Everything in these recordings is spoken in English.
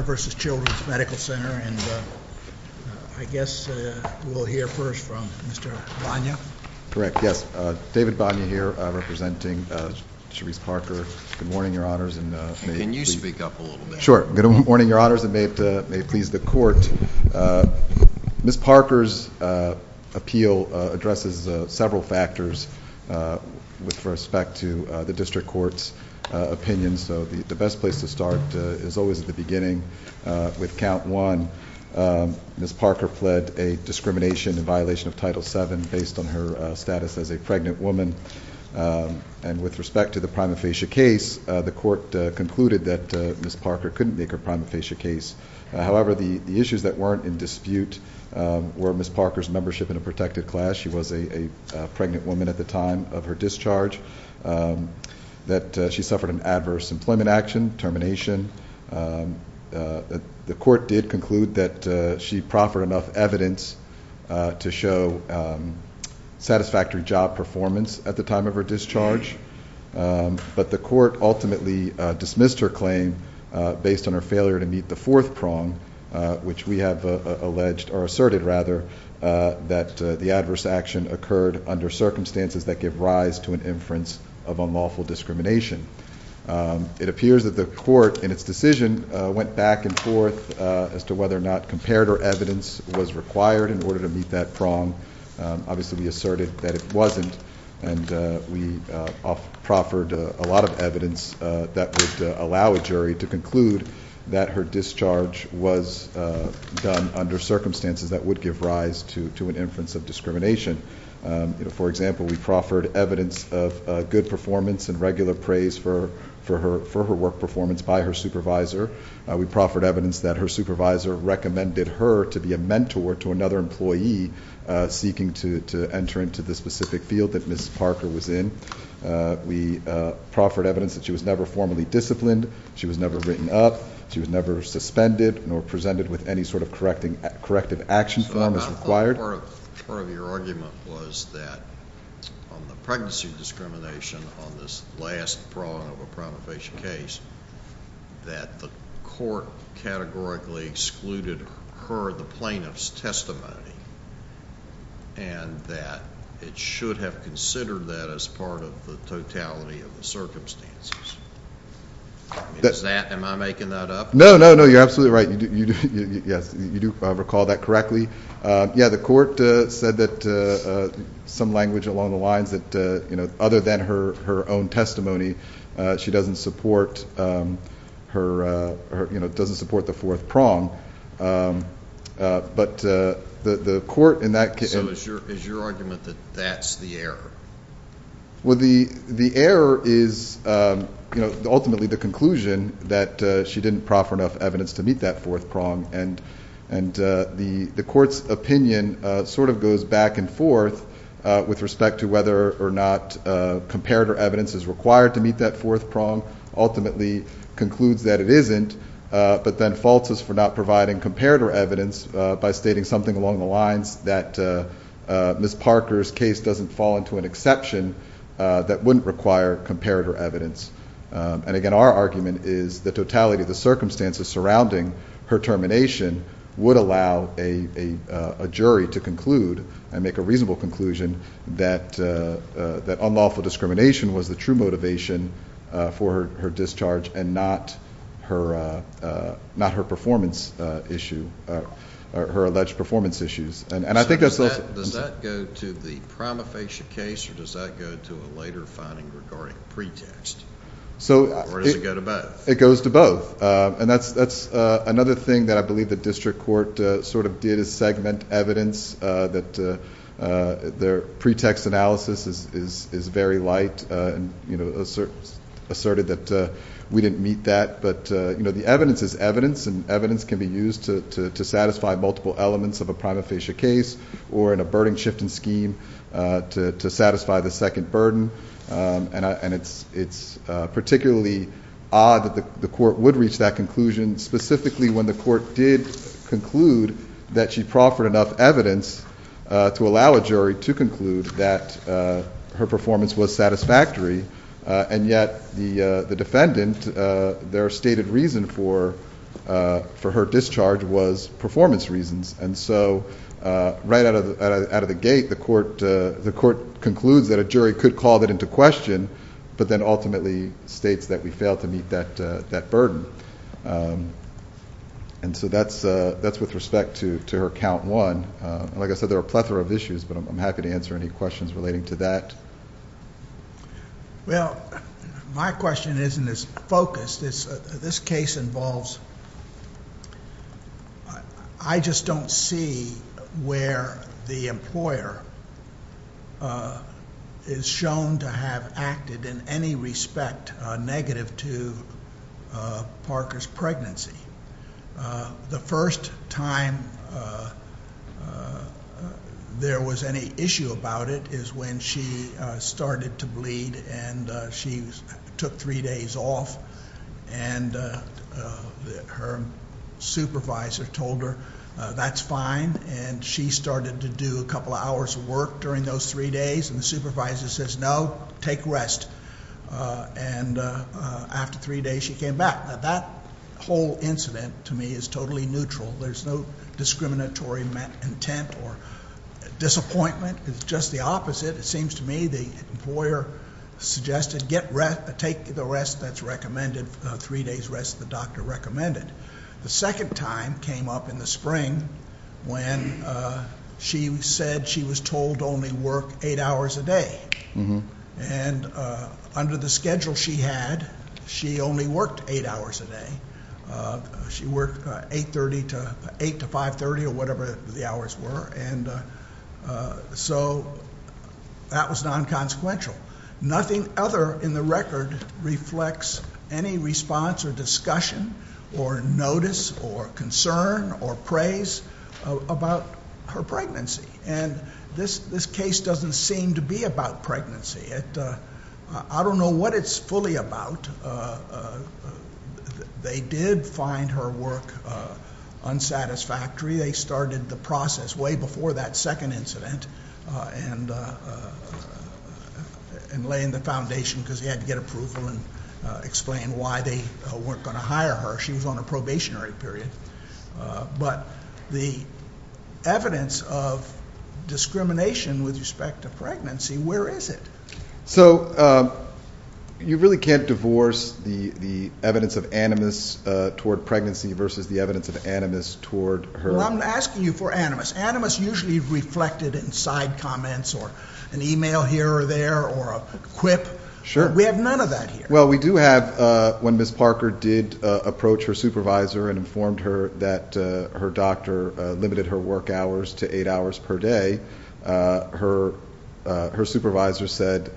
and I guess we'll hear first from Mr. Banya. Correct, yes. David Banya here, representing Charise Parker. Good morning, Your Honors, and may it please the Court. Can you speak up a little bit? Sure. Good morning, Your Honors, and may it please the Court. Ms. Parker's appeal addresses several factors with respect to the District Court's opinion, so the best place to start is always at the beginning with Count 1. Ms. Parker pled a discrimination in violation of Title VII based on her status as a pregnant woman, and with respect to the prima facie case, the Court concluded that Ms. Parker couldn't make her prima facie case. However, the issues that weren't in dispute were Ms. Parker's membership in a protected class. She was a pregnant woman at the time of her discharge. She suffered an adverse employment action, termination. The Court did conclude that she proffered enough evidence to show satisfactory job performance at the time of her discharge, but the Court ultimately dismissed her claim based on her failure to meet the fourth prong, which we have asserted that the adverse action occurred under circumstances that give rise to an inference of unlawful discrimination. It appears that the Court in its decision went back and forth as to whether or not comparative evidence was required in order to meet that prong. Obviously, we asserted that it wasn't, and we proffered a lot of evidence that would allow a jury to conclude that her discharge was done under circumstances that would give rise to an inference of discrimination. For example, we proffered evidence of good performance and regular praise for her work performance by her supervisor. We proffered evidence that her supervisor recommended her to be a mentor to another employee seeking to enter into the specific field that Ms. Parker was in. We proffered evidence that she was never formally disciplined. She was never written up. She was never suspended nor presented with any sort of corrective action form as required. Part of your argument was that on the pregnancy discrimination on this last prong of a prima facie case, that the Court categorically excluded her, the plaintiff's testimony, and that it should have considered that as part of the totality of the circumstances. Am I making that up? No, no, no, you're absolutely right. Yes, you do recall that correctly. Yeah, the Court said that some language along the lines that other than her own testimony, she doesn't support the fourth prong. So is your argument that that's the error? Well, the error is ultimately the conclusion that she didn't proffer enough evidence to meet that fourth prong, and the Court's opinion sort of goes back and forth with respect to whether or not comparator evidence is required to meet that fourth prong, ultimately concludes that it isn't, but then faults us for not providing comparator evidence by stating something along the lines that Ms. Parker's case doesn't fall into an exception that wouldn't require comparator evidence. Again, our argument is the totality of the circumstances surrounding her termination would allow a jury to conclude and make a reasonable conclusion that unlawful discrimination was the true motivation for her discharge and not her performance issue, her alleged performance issues. Does that go to the prima facie case or does that go to a later finding regarding pretext? Or does it go to both? It goes to both, and that's another thing that I believe the District Court sort of did is segment evidence that their pretext analysis is very light and asserted that we didn't meet that, but the evidence is evidence, and evidence can be used to satisfy multiple elements of a prima facie case or in a burden-shifting scheme to satisfy the second burden, and it's particularly odd that the Court would reach that conclusion specifically when the Court did conclude that she proffered enough evidence to allow a jury to conclude that her performance was satisfactory, and yet the defendant, their stated reason for her discharge was performance reasons. And so right out of the gate, the Court concludes that a jury could call that into question, but then ultimately states that we failed to meet that burden. And so that's with respect to her count one. Like I said, there are a plethora of issues, but I'm happy to answer any questions relating to that. Well, my question isn't as focused. This case involves, I just don't see where the employer is shown to have acted in any respect negative to Parker's pregnancy. The first time there was any issue about it is when she started to bleed, and she took three days off, and her supervisor told her that's fine, and she started to do a couple of hours of work during those three days, and the supervisor says, no, take rest, and after three days she came back. That whole incident to me is totally neutral. There's no discriminatory intent or disappointment. It's just the opposite. It seems to me the employer suggested take the rest that's recommended, three days rest the doctor recommended. The second time came up in the spring when she said she was told to only work eight hours a day, and under the schedule she had, she only worked eight hours a day. She worked 8 to 5.30 or whatever the hours were, and so that was non-consequential. Nothing other in the record reflects any response or discussion or notice or concern or praise about her pregnancy, and this case doesn't seem to be about pregnancy. I don't know what it's fully about. They did find her work unsatisfactory. They started the process way before that second incident and laying the foundation because they had to get approval and explain why they weren't going to hire her. She was on a probationary period. But the evidence of discrimination with respect to pregnancy, where is it? So you really can't divorce the evidence of animus toward pregnancy versus the evidence of animus toward her? Well, I'm asking you for animus. Animus usually reflected in side comments or an e-mail here or there or a quip. We have none of that here. Well, we do have when Ms. Parker did approach her supervisor and informed her that her doctor limited her work hours to eight hours per day, her supervisor said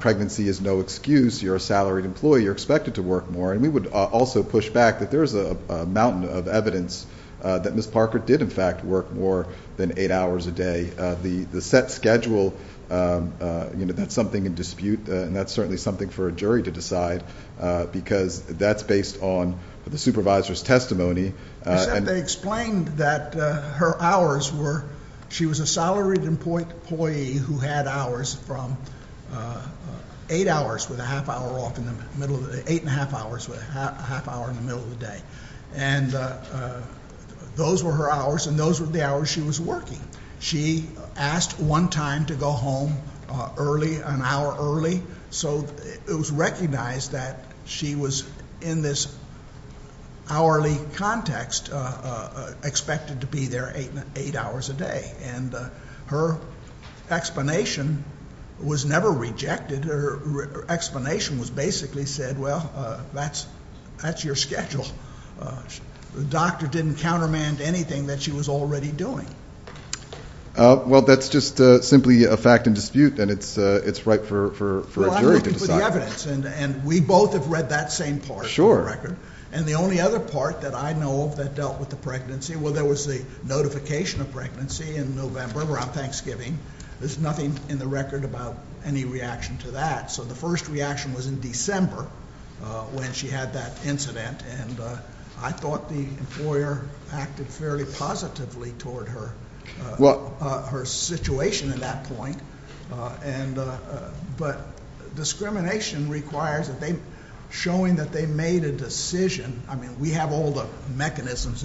pregnancy is no excuse. You're a salaried employee. You're expected to work more. And we would also push back that there is a mountain of evidence that Ms. Parker did, in fact, work more than eight hours a day. The set schedule, that's something in dispute and that's certainly something for a jury to decide because that's based on the supervisor's testimony. Except they explained that her hours were... She was a salaried employee who had hours from eight hours with a half hour off in the middle of the day, eight and a half hours with a half hour in the middle of the day. And those were her hours and those were the hours she was working. She asked one time to go home early, an hour early, so it was recognized that she was in this hourly context expected to be there eight hours a day. And her explanation was never rejected. Her explanation was basically said, well, that's your schedule. The doctor didn't countermand anything that she was already doing. Well, that's just simply a fact in dispute and it's right for a jury to decide. Well, I'm looking for the evidence and we both have read that same part of the record. And the only other part that I know of that dealt with the pregnancy, well, there was a notification of pregnancy in November around Thanksgiving. There's nothing in the record about any reaction to that. So the first reaction was in December when she had that incident. And I thought the employer acted fairly positively toward her situation at that point. But discrimination requires showing that they made a decision. I mean, we have all the mechanisms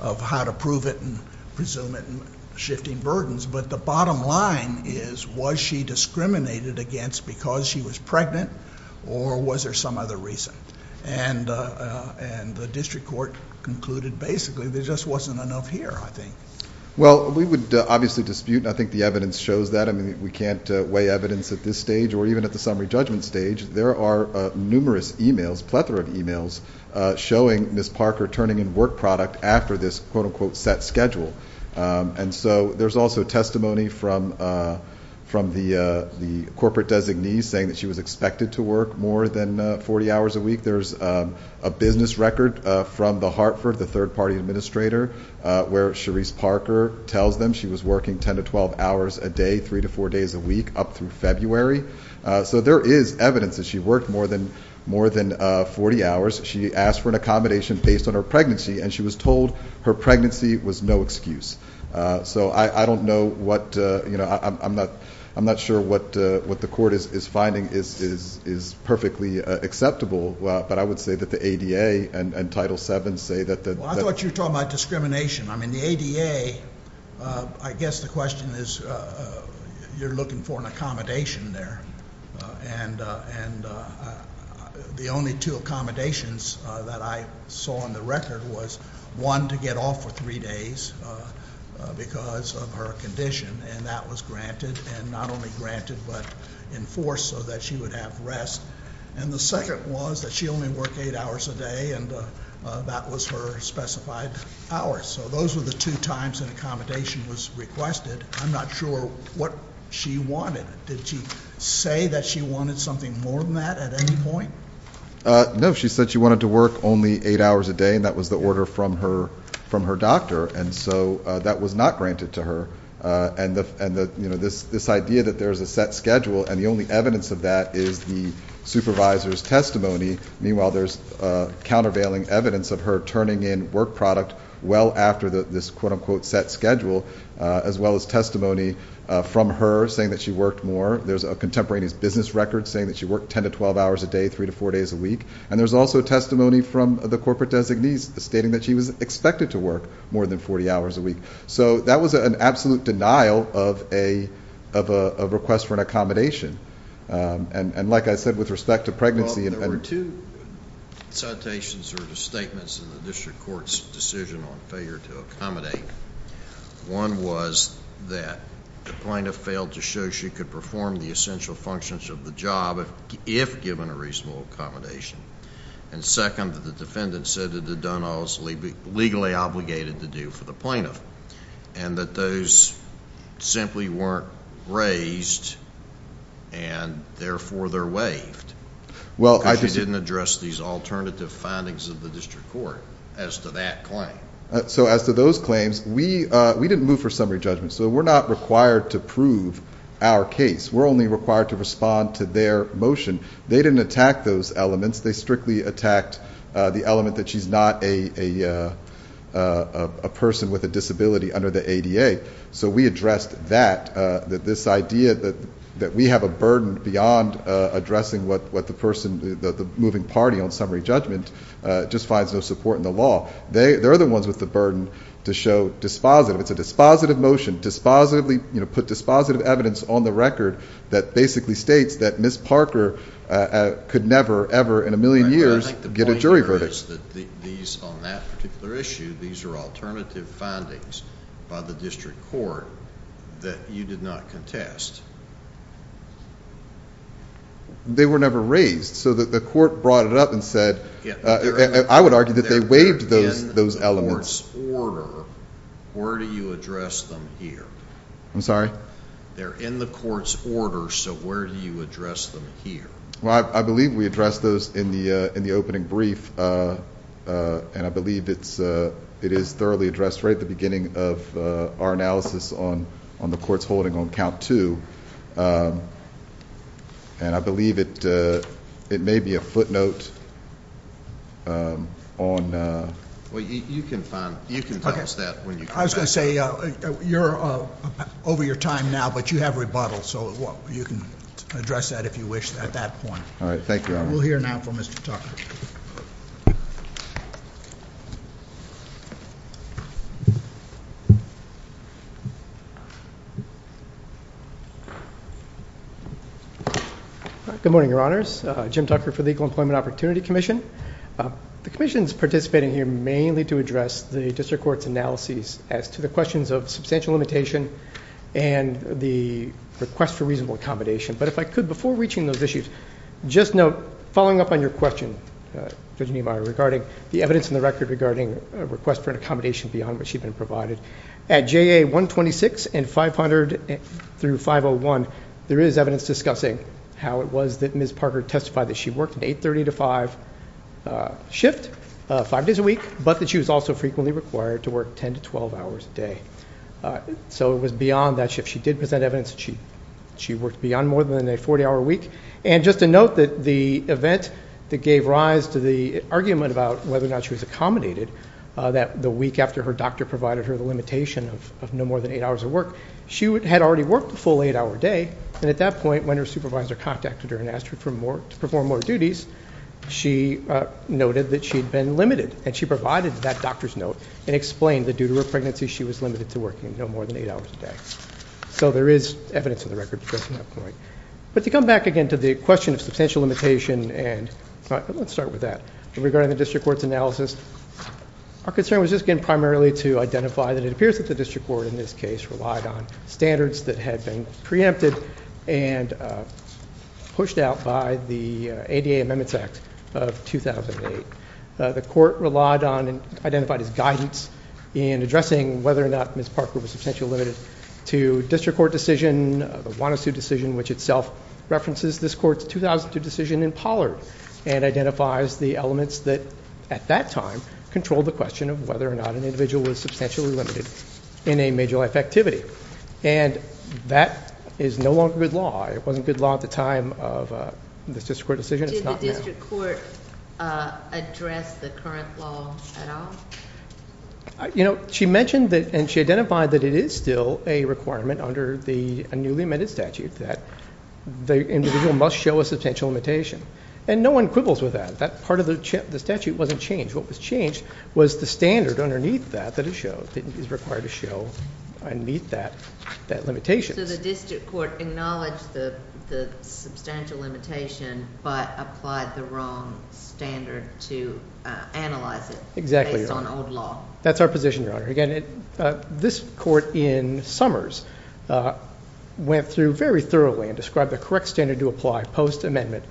of how to prove it and presume it and shifting burdens. But the bottom line is, was she discriminated against because she was pregnant or was there some other reason? And the district court concluded basically there just wasn't enough here, I think. Well, we would obviously dispute and I think the evidence shows that. I mean, we can't weigh evidence at this stage or even at the summary judgment stage. There are numerous emails, plethora of emails, showing Ms. Parker turning in work product after this quote-unquote set schedule. And so there's also testimony from the corporate designee saying that she was expected to work more than 40 hours a week. There's a business record from the Hartford, the third-party administrator, where Cherise Parker tells them she was working 10 to 12 hours a day, three to four days a week up through February. So there is evidence that she worked more than 40 hours. She asked for an accommodation based on her pregnancy, and she was told her pregnancy was no excuse. So I don't know what... I'm not sure what the court is finding is perfectly acceptable, but I would say that the ADA and Title VII say that... Well, I thought you were talking about discrimination. I mean, the ADA, I guess the question is you're looking for an accommodation there. And the only two accommodations that I saw on the record was, one, to get off for three days because of her condition, and that was granted. And not only granted, but enforced so that she would have rest. And the second was that she only worked eight hours a day, and that was her specified hours. So those were the two times an accommodation was requested. I'm not sure what she wanted. Did she say that she wanted something more than that at any point? No. She said she wanted to work only eight hours a day, and that was the order from her doctor. And so that was not granted to her. And this idea that there's a set schedule, and the only evidence of that is the supervisor's testimony. Meanwhile, there's countervailing evidence of her turning in work product well after this quote-unquote set schedule, as well as testimony from her saying that she worked more. There's a contemporaneous business record saying that she worked 10 to 12 hours a day, three to four days a week. And there's also testimony from the corporate designee stating that she was expected to work more than 40 hours a week. So that was an absolute denial of a request for an accommodation. And like I said, with respect to pregnancy... One was that the plaintiff failed to show she could perform the essential functions of the job if given a reasonable accommodation. And second, that the defendant said that it had done all it's legally obligated to do for the plaintiff, and that those simply weren't raised, and therefore they're waived. Well, I just... Because she didn't address these alternative findings of the district court as to that claim. So as to those claims, we didn't move for summary judgment. So we're not required to prove our case. We're only required to respond to their motion. They didn't attack those elements. They strictly attacked the element that she's not a person with a disability under the ADA. So we addressed that, that this idea that we have a burden beyond addressing what the person, the moving party on summary judgment, just finds no support in the law. They're the ones with the burden to show dispositive. It's a dispositive motion. Put dispositive evidence on the record that basically states that Ms. Parker could never, ever, in a million years, get a jury verdict. The point here is that these, on that particular issue, these are alternative findings by the district court that you did not contest. They were never raised. So the court brought it up and said... I would argue that they waived those elements. Where do you address them here? I'm sorry? They're in the court's order, so where do you address them here? Well, I believe we addressed those in the opening brief, and I believe it is thoroughly addressed right at the beginning of our analysis on the court's holding on count two. And I believe it may be a footnote on... Well, you can tell us that when you come back. I was going to say, you're over your time now, but you have rebuttal, so you can address that if you wish at that point. All right. Thank you, Your Honor. We'll hear now from Mr. Tucker. Good morning, Your Honors. Jim Tucker for the Equal Employment Opportunity Commission. The commission is participating here mainly to address the district court's analyses as to the questions of substantial limitation and the request for reasonable accommodation. But if I could, before reaching those issues, just note, following up on your question, Judge Niemeyer, regarding the evidence in the record regarding a request for an accommodation beyond what should have been provided, at JA 126 and 500 through 501, there is evidence discussing how it was that Ms. Parker testified that she worked an 830-to-5 shift five days a week, but that she was also frequently required to work 10 to 12 hours a day. So it was beyond that shift. She did present evidence that she worked beyond more than a 40-hour week. And just to note that the event that gave rise to the argument about whether or not she was accommodated, that the week after her doctor provided her the limitation of no more than eight hours of work, she had already worked a full eight-hour day. And at that point, when her supervisor contacted her and asked her to perform more duties, she noted that she had been limited. And she provided that doctor's note and explained that due to her pregnancy, she was limited to working no more than eight hours a day. So there is evidence in the record addressing that point. But to come back again to the question of substantial limitation, and let's start with that. Regarding the district court's analysis, our concern was just, again, primarily to identify that it appears that the district court, in this case, relied on standards that had been preempted and pushed out by the ADA Amendments Act of 2008. The court relied on and identified as guidance in addressing whether or not Ms. Parker was substantially limited to district court decision, the Juan Asu decision, which itself references this court's 2002 decision in Pollard, and identifies the elements that, at that time, controlled the question of whether or not an individual was substantially limited in a major life activity. And that is no longer good law. It wasn't good law at the time of this district court decision. It's not now. Did the district court address the current law at all? You know, she mentioned that, and she identified that it is still a requirement under the newly amended statute that the individual must show a substantial limitation. And no one quibbles with that. That part of the statute wasn't changed. What was changed was the standard underneath that that is required to show and meet that limitation. So the district court acknowledged the substantial limitation but applied the wrong standard to analyze it based on old law. That's our position, Your Honor. Again, this court in Summers went through very thoroughly and described the correct standard to apply post-amendment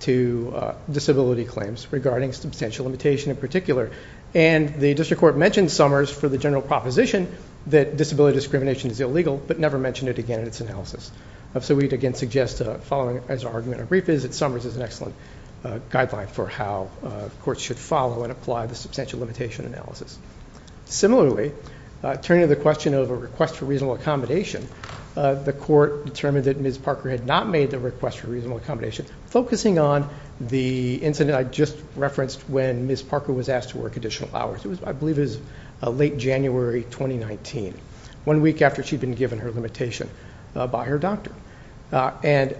to disability claims regarding substantial limitation in particular. And the district court mentioned Summers for the general proposition that disability discrimination is illegal, but never mentioned it again in its analysis. So we'd again suggest, as our argument and brief is, that Summers is an excellent guideline for how courts should follow and apply the substantial limitation analysis. Similarly, turning to the question of a request for reasonable accommodation, the court determined that Ms. Parker had not made the request for reasonable accommodation, focusing on the incident I just referenced when Ms. Parker was asked to work additional hours. It was, I believe, late January 2019, one week after she'd been given her limitation by her doctor. And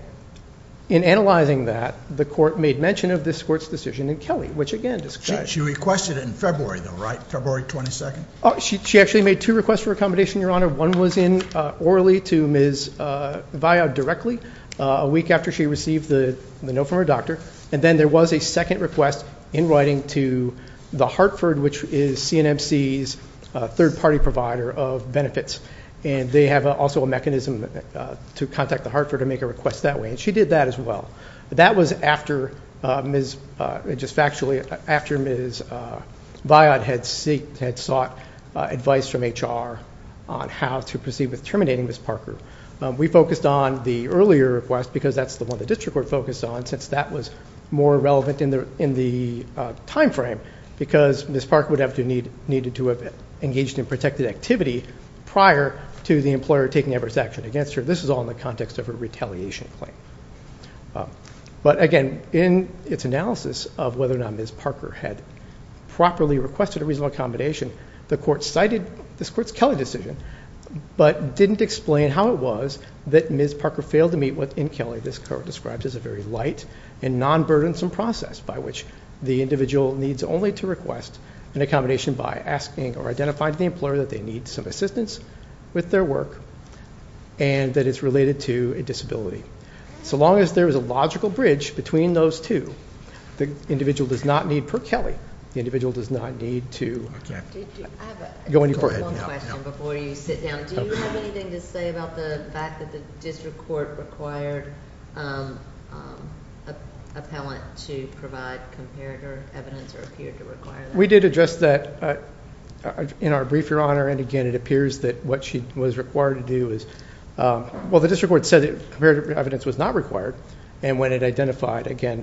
in analyzing that, the court made mention of this court's decision in Kelly, which again describes— She requested it in February though, right? February 22nd? She actually made two requests for accommodation, Your Honor. One was in orally to Ms. Viad directly, a week after she received the note from her doctor. And then there was a second request in writing to the Hartford, which is CNMC's third-party provider of benefits. And they have also a mechanism to contact the Hartford to make a request that way, and she did that as well. That was just factually after Ms. Viad had sought advice from HR on how to proceed with terminating Ms. Parker. We focused on the earlier request because that's the one the district court focused on, since that was more relevant in the timeframe, because Ms. Parker would have needed to have engaged in protected activity prior to the employer taking adverse action against her. So this is all in the context of a retaliation claim. But again, in its analysis of whether or not Ms. Parker had properly requested a reasonable accommodation, the court cited this court's Kelly decision, but didn't explain how it was that Ms. Parker failed to meet what, in Kelly, this court described as a very light and non-burdensome process by which the individual needs only to request an accommodation by asking or identifying to the employer that they need some assistance with their work and that it's related to a disability. So long as there is a logical bridge between those two, the individual does not need, per Kelly, the individual does not need to go any further. I have one question before you sit down. Do you have anything to say about the fact that the district court required an appellant to provide comparative evidence or appeared to require that? We did address that in our brief, Your Honor. And again, it appears that what she was required to do is, well, the district court said that comparative evidence was not required. And when it identified, again,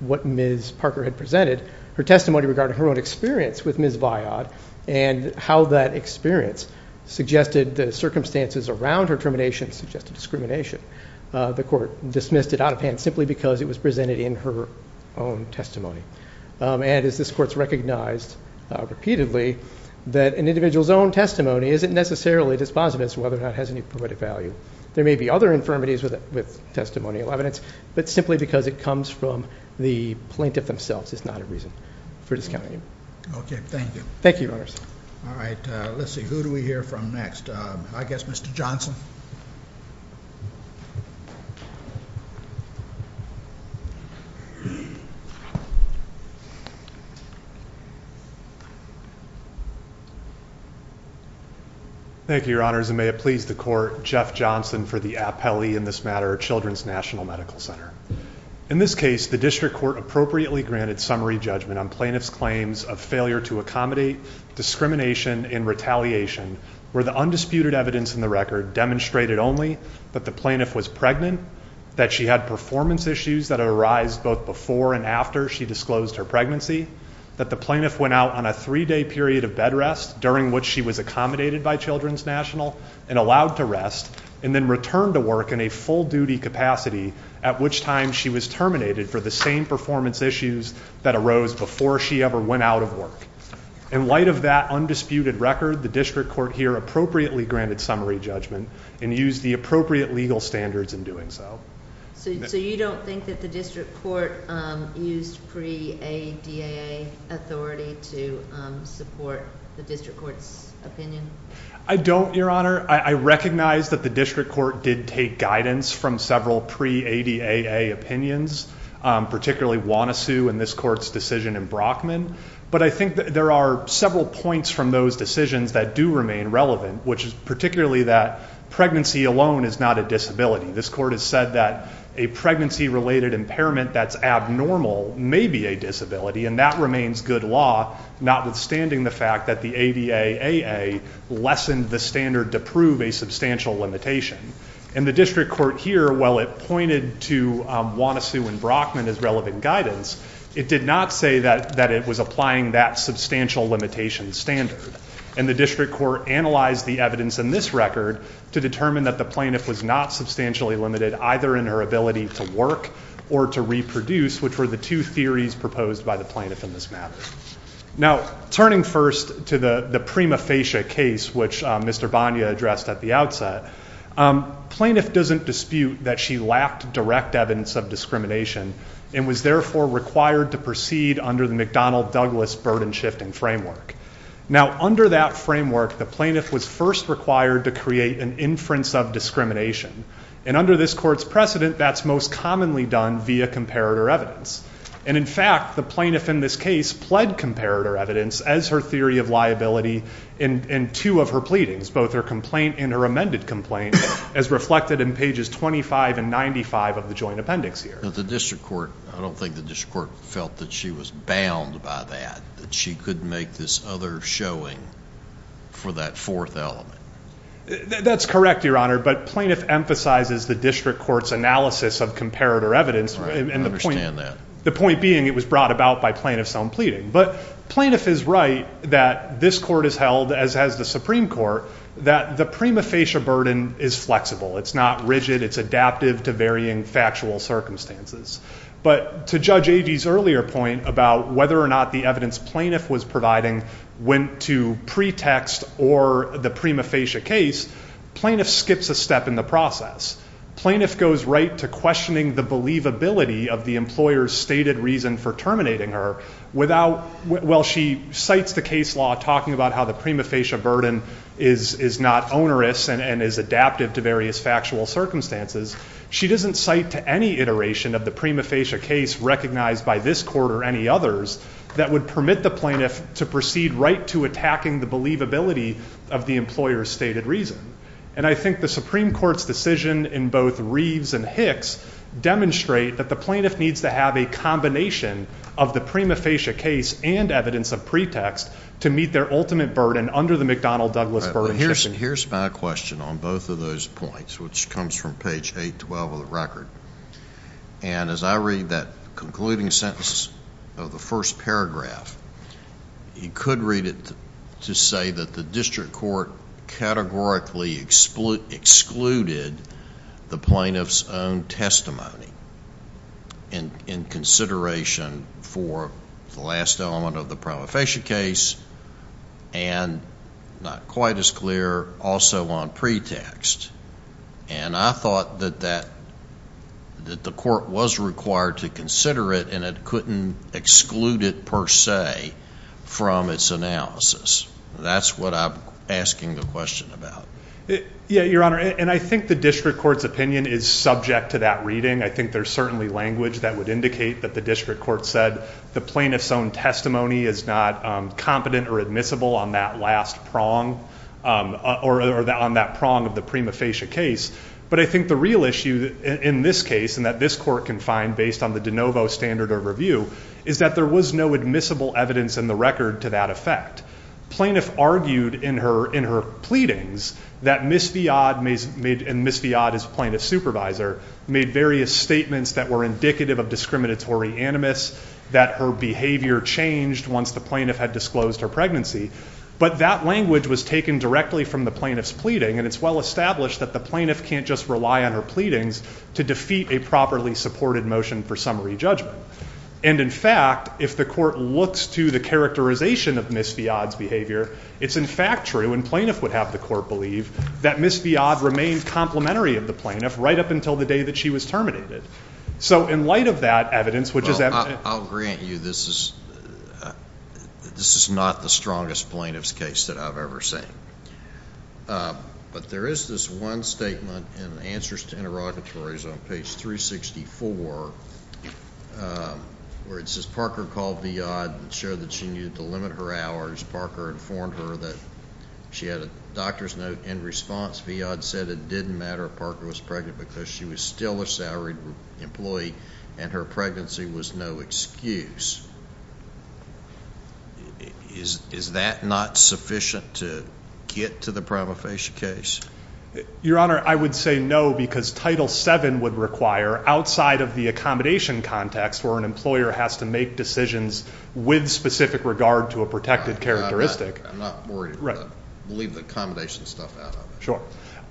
what Ms. Parker had presented, her testimony regarding her own experience with Ms. Viad and how that experience suggested the circumstances around her termination suggested discrimination. The court dismissed it out of hand simply because it was presented in her own testimony. And as this court has recognized repeatedly, that an individual's own testimony isn't necessarily dispositive as to whether or not it has any poetic value. There may be other infirmities with testimonial evidence, but simply because it comes from the plaintiff themselves is not a reason for discounting it. Okay. Thank you. Thank you, Your Honors. All right. Let's see. Who do we hear from next? I guess Mr. Johnson. Thank you, Your Honors. And may it please the court, Jeff Johnson for the appellee in this matter, Children's National Medical Center. In this case, the district court appropriately granted summary judgment on plaintiff's claims of failure to accommodate discrimination and retaliation where the undisputed evidence in the record demonstrated only that the plaintiff was pregnant, that she had performance issues that arise both before and after she disclosed her pregnancy, that the plaintiff went out on a three-day period of bed rest during which she was accommodated by Children's National and allowed to rest and then returned to work in a full-duty capacity, at which time she was terminated for the same performance issues that arose before she ever went out of work. In light of that undisputed record, the district court here appropriately granted summary judgment and used the appropriate legal standards in doing so. So you don't think that the district court used pre-ADAA authority to support the district court's opinion? I don't, Your Honor. I recognize that the district court did take guidance from several pre-ADAA opinions, particularly Wanusu and this court's decision in Brockman, but I think there are several points from those decisions that do remain relevant, which is particularly that pregnancy alone is not a disability. This court has said that a pregnancy-related impairment that's abnormal may be a disability, and that remains good law notwithstanding the fact that the ADAAA lessened the standard to prove a substantial limitation. And the district court here, while it pointed to Wanusu and Brockman as relevant guidance, it did not say that it was applying that substantial limitation standard. And the district court analyzed the evidence in this record to determine that the plaintiff was not substantially limited either in her ability to work or to reproduce, which were the two theories proposed by the plaintiff in this matter. Now, turning first to the prima facie case, which Mr. Bonia addressed at the outset, plaintiff doesn't dispute that she lacked direct evidence of discrimination and was therefore required to proceed under the McDonnell-Douglas burden-shifting framework. Now, under that framework, the plaintiff was first required to create an inference of discrimination. And under this court's precedent, that's most commonly done via comparator evidence. And in fact, the plaintiff in this case pled comparator evidence as her theory of liability in two of her pleadings, both her complaint and her amended complaint, as reflected in pages 25 and 95 of the joint appendix here. The district court, I don't think the district court felt that she was bound by that, that she couldn't make this other showing for that fourth element. That's correct, Your Honor, but plaintiff emphasizes the district court's analysis of comparator evidence. I understand that. The point being it was brought about by plaintiff's own pleading. But plaintiff is right that this court has held, as has the Supreme Court, that the prima facie burden is flexible. It's not rigid. It's adaptive to varying factual circumstances. But to Judge Agee's earlier point about whether or not the evidence plaintiff was providing went to pretext or the prima facie case, plaintiff skips a step in the process. Plaintiff goes right to questioning the believability of the employer's stated reason for terminating her without, while she cites the case law talking about how the prima facie burden is not onerous and is adaptive to various factual circumstances, she doesn't cite to any iteration of the prima facie case recognized by this court or any others that would permit the plaintiff to proceed right to attacking the believability of the employer's stated reason. And I think the Supreme Court's decision in both Reeves and Hicks demonstrate that the plaintiff needs to have a combination of the prima facie case and evidence of pretext to meet their ultimate burden under the McDonnell-Douglas burden. Here's my question on both of those points, which comes from page 812 of the record. And as I read that concluding sentence of the first paragraph, you could read it to say that the district court categorically excluded the plaintiff's own testimony in consideration for the last element of the prima facie case and not quite as clear also on pretext. And I thought that the court was required to consider it and it couldn't exclude it per se from its analysis. That's what I'm asking the question about. Yeah, Your Honor, and I think the district court's opinion is subject to that reading. I think there's certainly language that would indicate that the district court said the plaintiff's own testimony is not competent or admissible on that last prong or on that prong of the prima facie case. But I think the real issue in this case and that this court can find based on the de novo standard of review is that there was no admissible evidence in the record to that effect. Plaintiff argued in her pleadings that Ms. Viad, and Ms. Viad is plaintiff's supervisor, made various statements that were indicative of discriminatory animus, that her behavior changed once the plaintiff had disclosed her pregnancy. But that language was taken directly from the plaintiff's pleading, and it's well established that the plaintiff can't just rely on her pleadings to defeat a properly supported motion for summary judgment. And in fact, if the court looks to the characterization of Ms. Viad's behavior, it's in fact true, and plaintiff would have the court believe, that Ms. Viad remained complementary of the plaintiff right up until the day that she was terminated. So in light of that evidence, which is evident. I'll grant you this is not the strongest plaintiff's case that I've ever seen. But there is this one statement in Answers to Interrogatories on page 364, where it says, Parker called Viad and showed that she needed to limit her hours. Parker informed her that she had a doctor's note in response. Viad said it didn't matter if Parker was pregnant because she was still a salaried employee and her pregnancy was no excuse. Is that not sufficient to get to the prima facie case? Your Honor, I would say no because Title VII would require, outside of the accommodation context where an employer has to make decisions with specific regard to a protected characteristic. I'm not worried, but we'll leave the accommodation stuff out of it. Sure.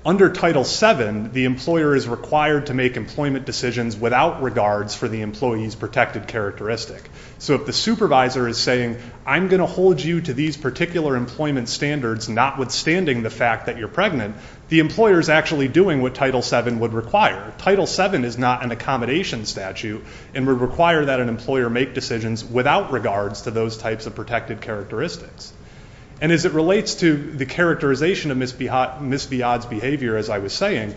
Under Title VII, the employer is required to make employment decisions without regards for the employee's protected characteristic. So if the supervisor is saying, I'm going to hold you to these particular employment standards notwithstanding the fact that you're pregnant, the employer is actually doing what Title VII would require. Title VII is not an accommodation statute and would require that an employer make decisions without regards to those types of protected characteristics. And as it relates to the characterization of Ms. Viad's behavior, as I was saying,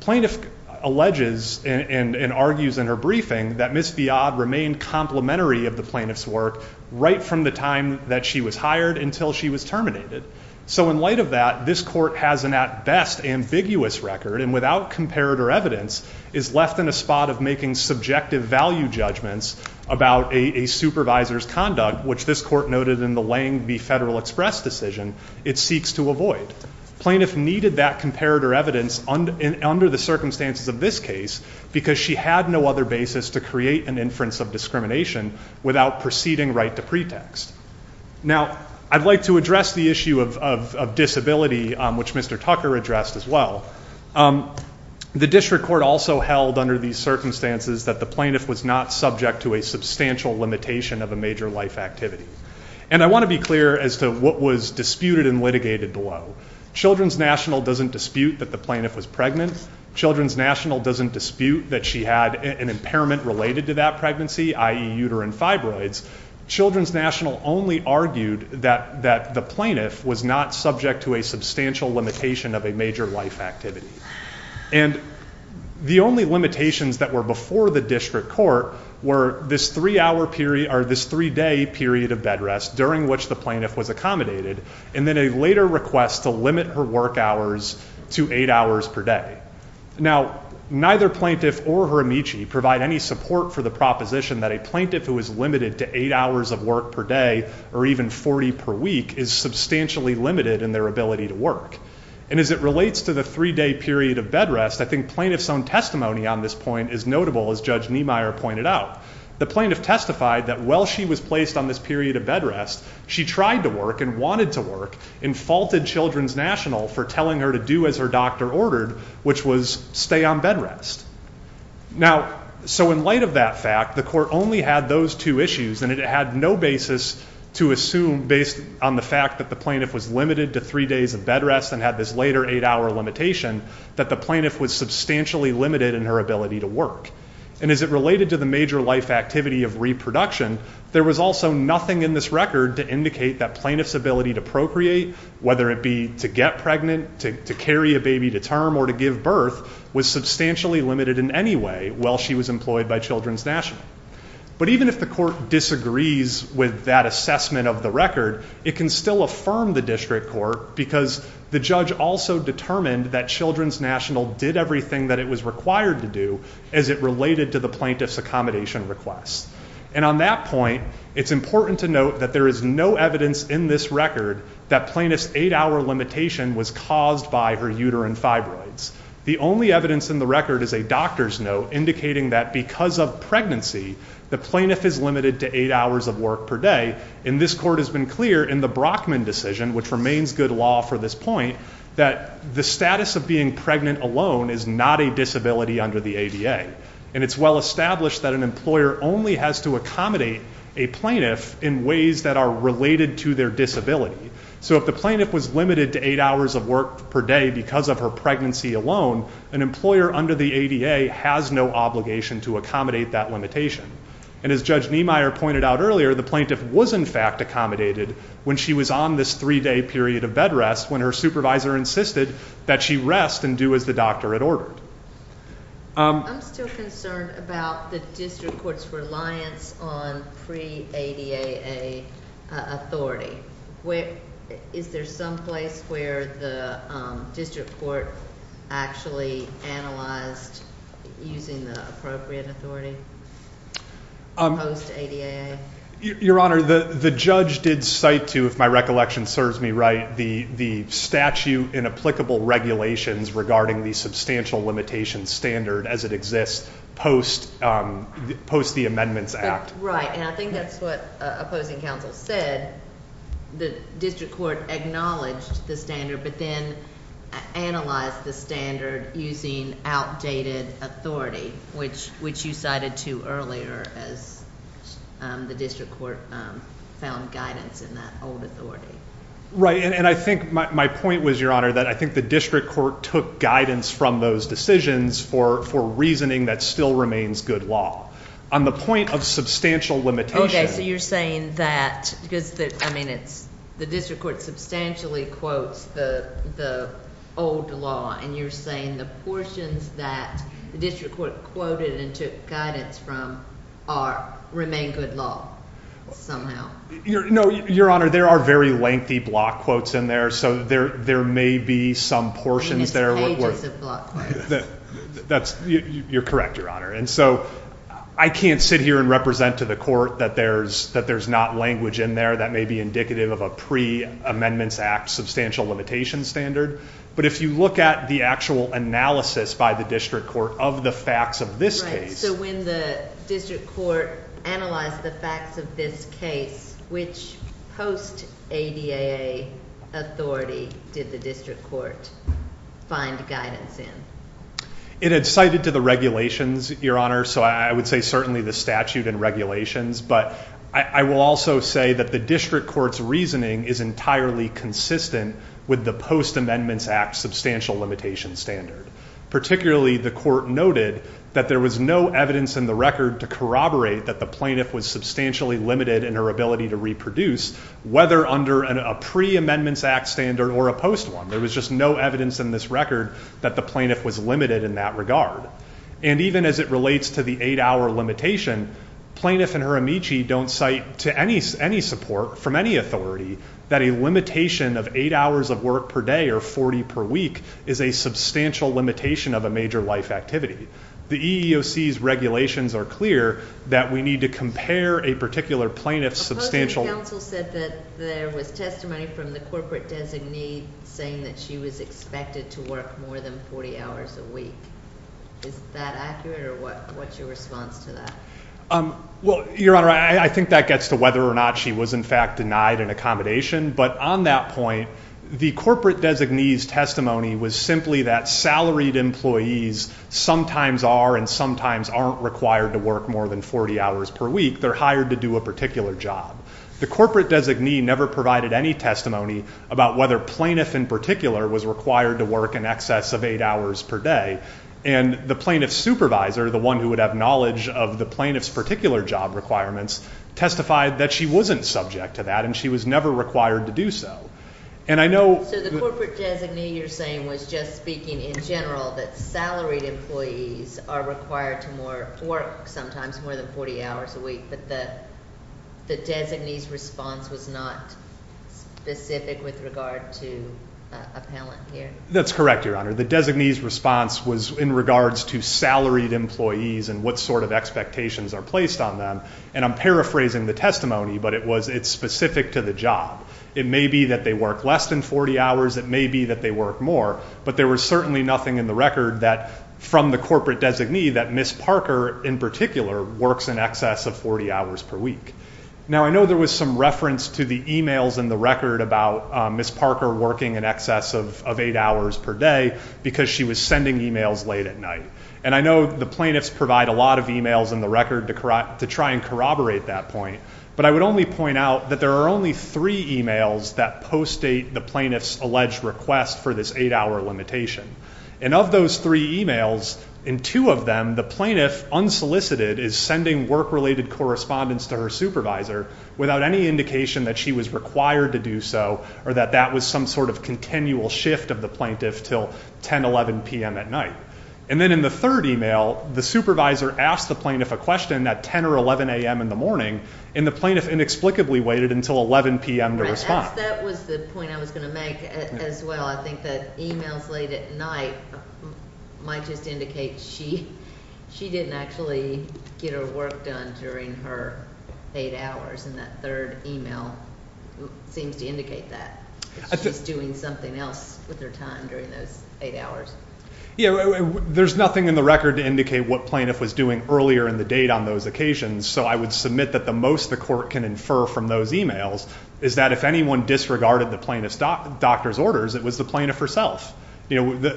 plaintiff alleges and argues in her briefing that Ms. Viad remained complementary of the plaintiff's work right from the time that she was hired until she was terminated. So in light of that, this court has an at best ambiguous record and without comparator evidence is left in a spot of making subjective value judgments about a supervisor's conduct, which this court noted in the Lange v. Federal Express decision, it seeks to avoid. Plaintiff needed that comparator evidence under the circumstances of this case because she had no other basis to create an inference of discrimination without proceeding right to pretext. Now, I'd like to address the issue of disability, which Mr. Tucker addressed as well. The district court also held under these circumstances that the plaintiff was not subject to a substantial limitation of a major life activity. And I want to be clear as to what was disputed and litigated below. Children's National doesn't dispute that the plaintiff was pregnant. Children's National doesn't dispute that she had an impairment related to that pregnancy, i.e. uterine fibroids. Children's National only argued that the plaintiff was not subject to a substantial limitation of a major life activity. And the only limitations that were before the district court were this three-day period of bed rest during which the plaintiff was accommodated and then a later request to limit her work hours to eight hours per day. Now, neither plaintiff or her amici provide any support for the proposition that a plaintiff who is limited to eight hours of work per day or even 40 per week is substantially limited in their ability to work. And as it relates to the three-day period of bed rest, I think plaintiff's own testimony on this point is notable, as Judge Niemeyer pointed out. The plaintiff testified that while she was placed on this period of bed rest, she tried to work and wanted to work and faulted Children's National for telling her to do as her doctor ordered, which was stay on bed rest. Now, so in light of that fact, the court only had those two issues and it had no basis to assume based on the fact that the plaintiff was limited to three days of bed rest and had this later eight-hour limitation that the plaintiff was substantially limited in her ability to work. And as it related to the major life activity of reproduction, there was also nothing in this record to indicate that plaintiff's ability to procreate, whether it be to get pregnant, to carry a baby to term, or to give birth, was substantially limited in any way while she was employed by Children's National. But even if the court disagrees with that assessment of the record, it can still affirm the district court because the judge also determined that Children's National did everything that it was required to do as it related to the plaintiff's accommodation request. And on that point, it's important to note that there is no evidence in this record that plaintiff's eight-hour limitation was caused by her uterine fibroids. The only evidence in the record is a doctor's note indicating that because of pregnancy, the plaintiff is limited to eight hours of work per day. And this court has been clear in the Brockman decision, which remains good law for this point, that the status of being pregnant alone is not a disability under the ADA. And it's well established that an employer only has to accommodate a plaintiff in ways that are related to their disability. So if the plaintiff was limited to eight hours of work per day because of her pregnancy alone, an employer under the ADA has no obligation to accommodate that limitation. And as Judge Niemeyer pointed out earlier, the plaintiff was in fact accommodated when she was on this three-day period of bed rest when her supervisor insisted that she rest and do as the doctor had ordered. I'm still concerned about the district court's reliance on pre-ADAA authority. Is there some place where the district court actually analyzed using the appropriate authority post-ADAA? Your Honor, the judge did cite to, if my recollection serves me right, the statute in applicable regulations regarding the substantial limitation standard as it exists post the Amendments Act. Right, and I think that's what opposing counsel said. The district court acknowledged the standard but then analyzed the standard using outdated authority, which you cited to earlier as the district court found guidance in that old authority. Right, and I think my point was, Your Honor, that I think the district court took guidance from those decisions for reasoning that still remains good law. On the point of substantial limitation— Okay, so you're saying that because the district court substantially quotes the old law and you're saying the portions that the district court quoted and took guidance from remain good law somehow. No, Your Honor, there are very lengthy block quotes in there, so there may be some portions there— I mean, it's pages of block quotes. You're correct, Your Honor. And so I can't sit here and represent to the court that there's not language in there that may be indicative of a pre-Amendments Act substantial limitation standard, but if you look at the actual analysis by the district court of the facts of this case— which post-ADA authority did the district court find guidance in? It had cited to the regulations, Your Honor, so I would say certainly the statute and regulations, but I will also say that the district court's reasoning is entirely consistent with the post-Amendments Act substantial limitation standard. Particularly, the court noted that there was no evidence in the record to corroborate that the plaintiff was substantially limited in her ability to reproduce, whether under a pre-Amendments Act standard or a post one. There was just no evidence in this record that the plaintiff was limited in that regard. And even as it relates to the eight-hour limitation, plaintiff and her amici don't cite to any support from any authority that a limitation of eight hours of work per day or 40 per week is a substantial limitation of a major life activity. The EEOC's regulations are clear that we need to compare a particular plaintiff's substantial— Supposedly, counsel said that there was testimony from the corporate designee saying that she was expected to work more than 40 hours a week. Is that accurate, or what's your response to that? Well, Your Honor, I think that gets to whether or not she was in fact denied an accommodation, but on that point, the corporate designee's testimony was simply that salaried employees sometimes are and sometimes aren't required to work more than 40 hours per week. They're hired to do a particular job. The corporate designee never provided any testimony about whether plaintiff in particular was required to work in excess of eight hours per day, and the plaintiff's supervisor, the one who would have knowledge of the plaintiff's particular job requirements, testified that she wasn't subject to that and she was never required to do so. So the corporate designee you're saying was just speaking in general that salaried employees are required to work sometimes more than 40 hours a week, but the designee's response was not specific with regard to appellant here? That's correct, Your Honor. The designee's response was in regards to salaried employees and what sort of expectations are placed on them, and I'm paraphrasing the testimony, but it's specific to the job. It may be that they work less than 40 hours. It may be that they work more, but there was certainly nothing in the record from the corporate designee that Ms. Parker in particular works in excess of 40 hours per week. Now, I know there was some reference to the e-mails in the record about Ms. Parker working in excess of eight hours per day because she was sending e-mails late at night, and I know the plaintiffs provide a lot of e-mails in the record to try and corroborate that point, but I would only point out that there are only three e-mails that post-date the plaintiff's alleged request for this eight-hour limitation, and of those three e-mails, in two of them, the plaintiff, unsolicited, is sending work-related correspondence to her supervisor without any indication that she was required to do so or that that was some sort of continual shift of the plaintiff till 10, 11 p.m. at night. And then in the third e-mail, the supervisor asked the plaintiff a question at 10 or 11 a.m. in the morning, and the plaintiff inexplicably waited until 11 p.m. to respond. That was the point I was going to make as well. I think that e-mails late at night might just indicate she didn't actually get her work done during her eight hours, and that third e-mail seems to indicate that. She's doing something else with her time during those eight hours. There's nothing in the record to indicate what plaintiff was doing earlier in the date on those occasions, so I would submit that the most the court can infer from those e-mails is that if anyone disregarded the plaintiff's doctor's orders, it was the plaintiff herself.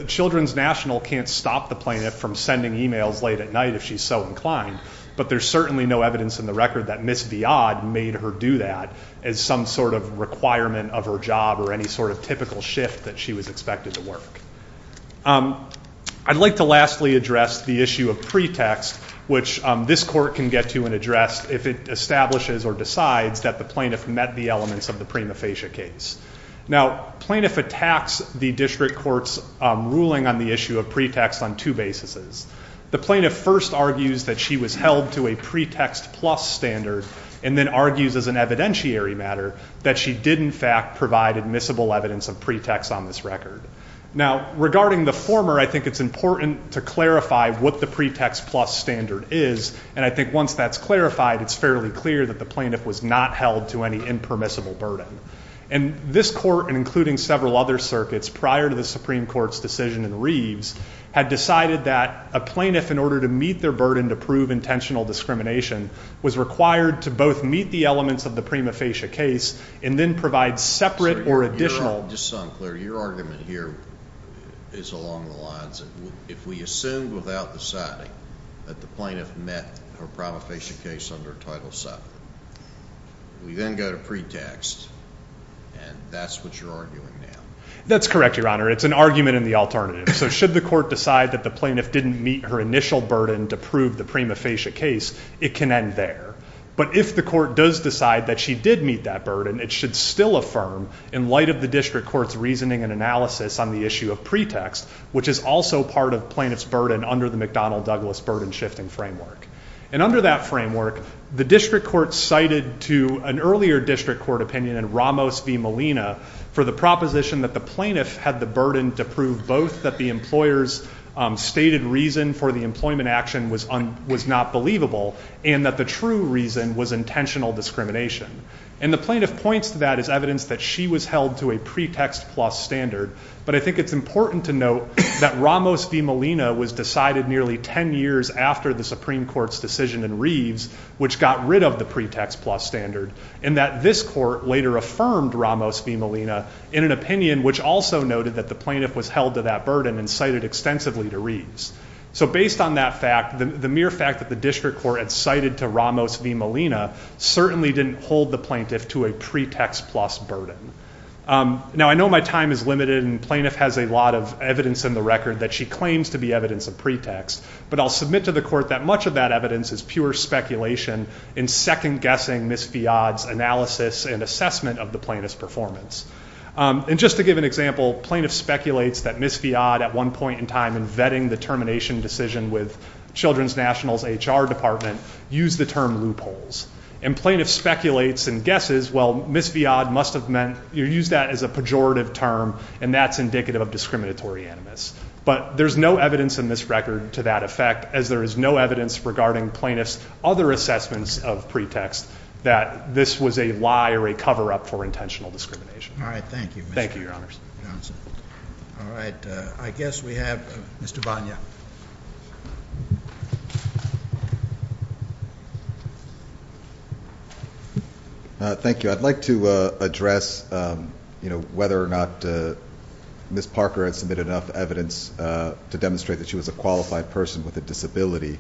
Children's National can't stop the plaintiff from sending e-mails late at night if she's so inclined, but there's certainly no evidence in the record that Ms. Viad made her do that as some sort of requirement of her job or any sort of typical shift that she was expected to work. I'd like to lastly address the issue of pretext, which this court can get to and address if it establishes or decides that the plaintiff met the elements of the prima facie case. Now, plaintiff attacks the district court's ruling on the issue of pretext on two basis. The plaintiff first argues that she was held to a pretext plus standard and then argues as an evidentiary matter that she did in fact provide admissible evidence of pretext on this record. Now, regarding the former, I think it's important to clarify what the pretext plus standard is, and I think once that's clarified, it's fairly clear that the plaintiff was not held to any impermissible burden. And this court, and including several other circuits prior to the Supreme Court's decision in Reeves, had decided that a plaintiff, in order to meet their burden to prove intentional discrimination, was required to both meet the elements of the prima facie case and then provide separate or additional. Just so I'm clear, your argument here is along the lines of if we assume without deciding that the plaintiff met her prima facie case under Title VII, we then go to pretext, and that's what you're arguing now? That's correct, Your Honor. It's an argument in the alternative. So should the court decide that the plaintiff didn't meet her initial burden to prove the prima facie case, it can end there. But if the court does decide that she did meet that burden, it should still affirm, in light of the district court's reasoning and analysis on the issue of pretext, which is also part of plaintiff's burden under the McDonnell-Douglas burden-shifting framework. And under that framework, the district court cited to an earlier district court opinion in Ramos v. Molina for the proposition that the plaintiff had the burden to prove both that the employer's stated reason for the employment action was not believable and that the true reason was intentional discrimination. And the plaintiff points to that as evidence that she was held to a pretext-plus standard, but I think it's important to note that Ramos v. Molina was decided nearly 10 years after the Supreme Court's decision in Reeves, which got rid of the pretext-plus standard, and that this court later affirmed Ramos v. Molina in an opinion which also noted that the plaintiff was held to that burden and cited extensively to Reeves. So based on that fact, the mere fact that the district court had cited to Ramos v. Molina certainly didn't hold the plaintiff to a pretext-plus burden. Now I know my time is limited and plaintiff has a lot of evidence in the record that she claims to be evidence of pretext, but I'll submit to the court that much of that evidence is pure speculation in second-guessing Ms. Fiad's analysis and assessment of the plaintiff's performance. And just to give an example, plaintiff speculates that Ms. Fiad at one point in time in vetting the termination decision with Children's National's HR Department used the term loopholes. And plaintiff speculates and guesses, well, Ms. Fiad must have meant you use that as a pejorative term and that's indicative of discriminatory animus. But there's no evidence in this record to that effect, as there is no evidence regarding plaintiff's other assessments of pretext that this was a lie or a cover-up for intentional discrimination. All right, thank you. Thank you, Your Honors. All right, I guess we have Mr. Bagna. Thank you. I'd like to address, you know, whether or not Ms. Parker has submitted enough evidence to demonstrate that she was a qualified person with a disability.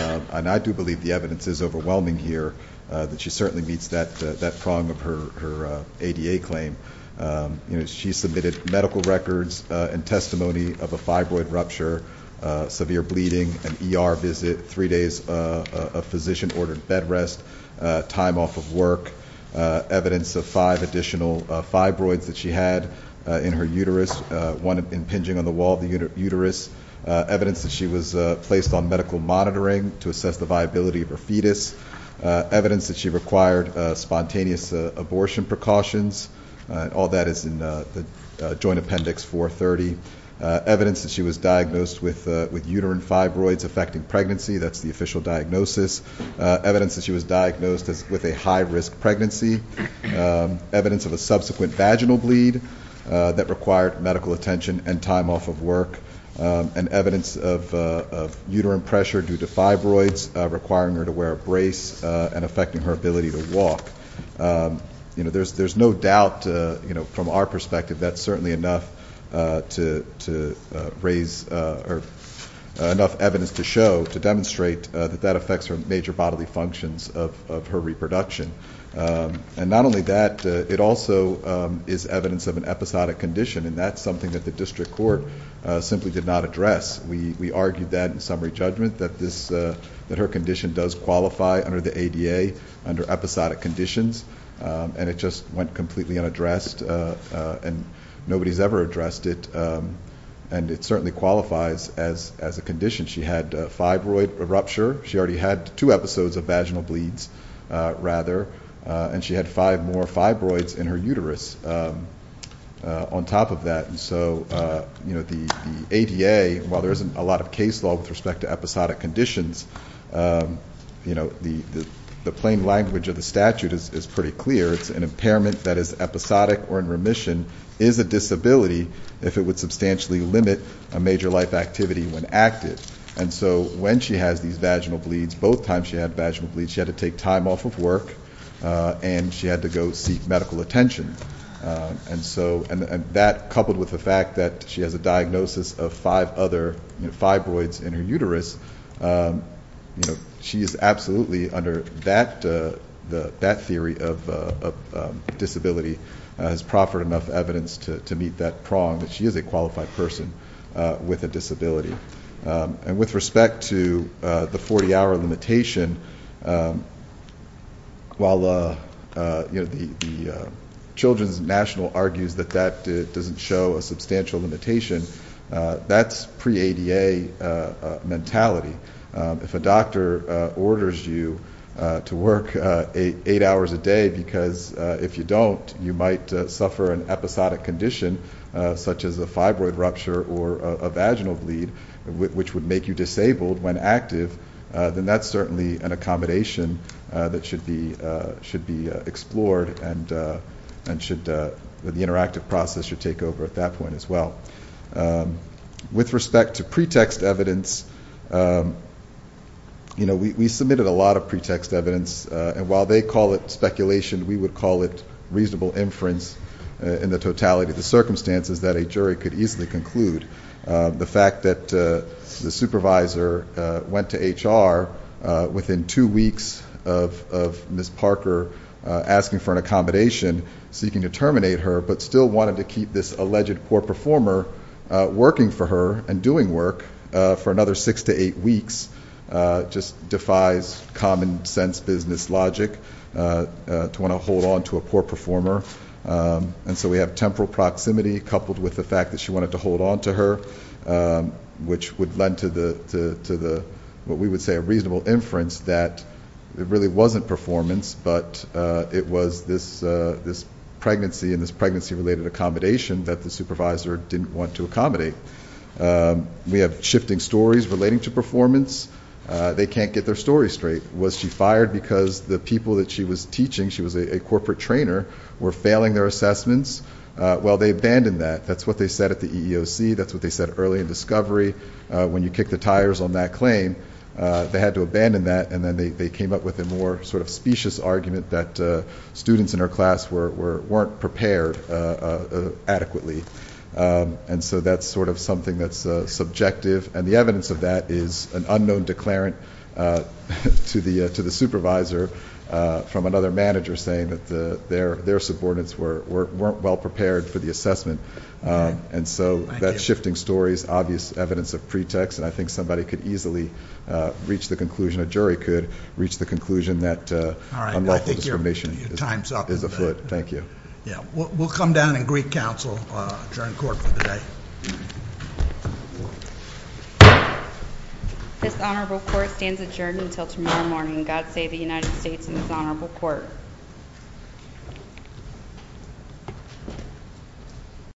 And I do believe the evidence is overwhelming here, that she certainly meets that prong of her ADA claim. You know, she submitted medical records and testimony of a fibroid rupture, severe bleeding, an ER visit, three days of physician-ordered bed rest, time off of work, evidence of five additional fibroids that she had in her uterus, one impinging on the wall of the uterus, evidence that she was placed on medical monitoring to assess the viability of her fetus, evidence that she required spontaneous abortion precautions. All that is in the Joint Appendix 430. Evidence that she was diagnosed with uterine fibroids affecting pregnancy. That's the official diagnosis. Evidence that she was diagnosed with a high-risk pregnancy. Evidence of a subsequent vaginal bleed that required medical attention and time off of work. And evidence of uterine pressure due to fibroids requiring her to wear a brace and affecting her ability to walk. You know, there's no doubt, you know, from our perspective that's certainly enough to raise or enough evidence to show, to demonstrate that that affects her major bodily functions of her reproduction. And not only that, it also is evidence of an episodic condition, and that's something that the district court simply did not address. We argued that in summary judgment, that her condition does qualify under the ADA under episodic conditions, and it just went completely unaddressed, and nobody's ever addressed it. And it certainly qualifies as a condition. She had a fibroid rupture. She already had two episodes of vaginal bleeds, rather, and she had five more fibroids in her uterus on top of that. And so, you know, the ADA, while there isn't a lot of case law with respect to episodic conditions, you know, the plain language of the statute is pretty clear. It's an impairment that is episodic or in remission is a disability if it would substantially limit a major life activity when acted. And so when she has these vaginal bleeds, both times she had vaginal bleeds, she had to take time off of work, and she had to go seek medical attention. And so that, coupled with the fact that she has a diagnosis of five other fibroids in her uterus, you know, she is absolutely under that theory of disability, has proffered enough evidence to meet that prong that she is a qualified person with a disability. And with respect to the 40-hour limitation, while the Children's National argues that that doesn't show a substantial limitation, that's pre-ADA mentality. If a doctor orders you to work eight hours a day because if you don't, you might suffer an episodic condition such as a fibroid rupture or a vaginal bleed, which would make you disabled when active, then that's certainly an accommodation that should be explored and the interactive process should take over at that point as well. With respect to pretext evidence, you know, we submitted a lot of pretext evidence, and while they call it speculation, we would call it reasonable inference in the totality of the circumstances that a jury could easily conclude. The fact that the supervisor went to HR within two weeks of Ms. Parker asking for an accommodation, seeking to terminate her, but still wanted to keep this alleged poor performer working for her and doing work for another six to eight weeks just defies common sense business logic to want to hold on to a poor performer. And so we have temporal proximity coupled with the fact that she wanted to hold on to her, which would lend to what we would say a reasonable inference that it really wasn't performance, but it was this pregnancy and this pregnancy-related accommodation that the supervisor didn't want to accommodate. We have shifting stories relating to performance. They can't get their story straight. Was she fired because the people that she was teaching, she was a corporate trainer, were failing their assessments? Well, they abandoned that. That's what they said at the EEOC. That's what they said early in discovery. When you kick the tires on that claim, they had to abandon that, and then they came up with a more sort of specious argument that students in her class weren't prepared adequately. And so that's sort of something that's subjective, and the evidence of that is an unknown declarant to the supervisor from another manager saying that their subordinates weren't well prepared for the assessment. And so that's shifting stories, obvious evidence of pretext, and I think somebody could easily reach the conclusion, a jury could reach the conclusion that unlawful discrimination is afoot. Thank you. We'll come down and greet counsel during court for the day. This honorable court stands adjourned until tomorrow morning. God save the United States and this honorable court.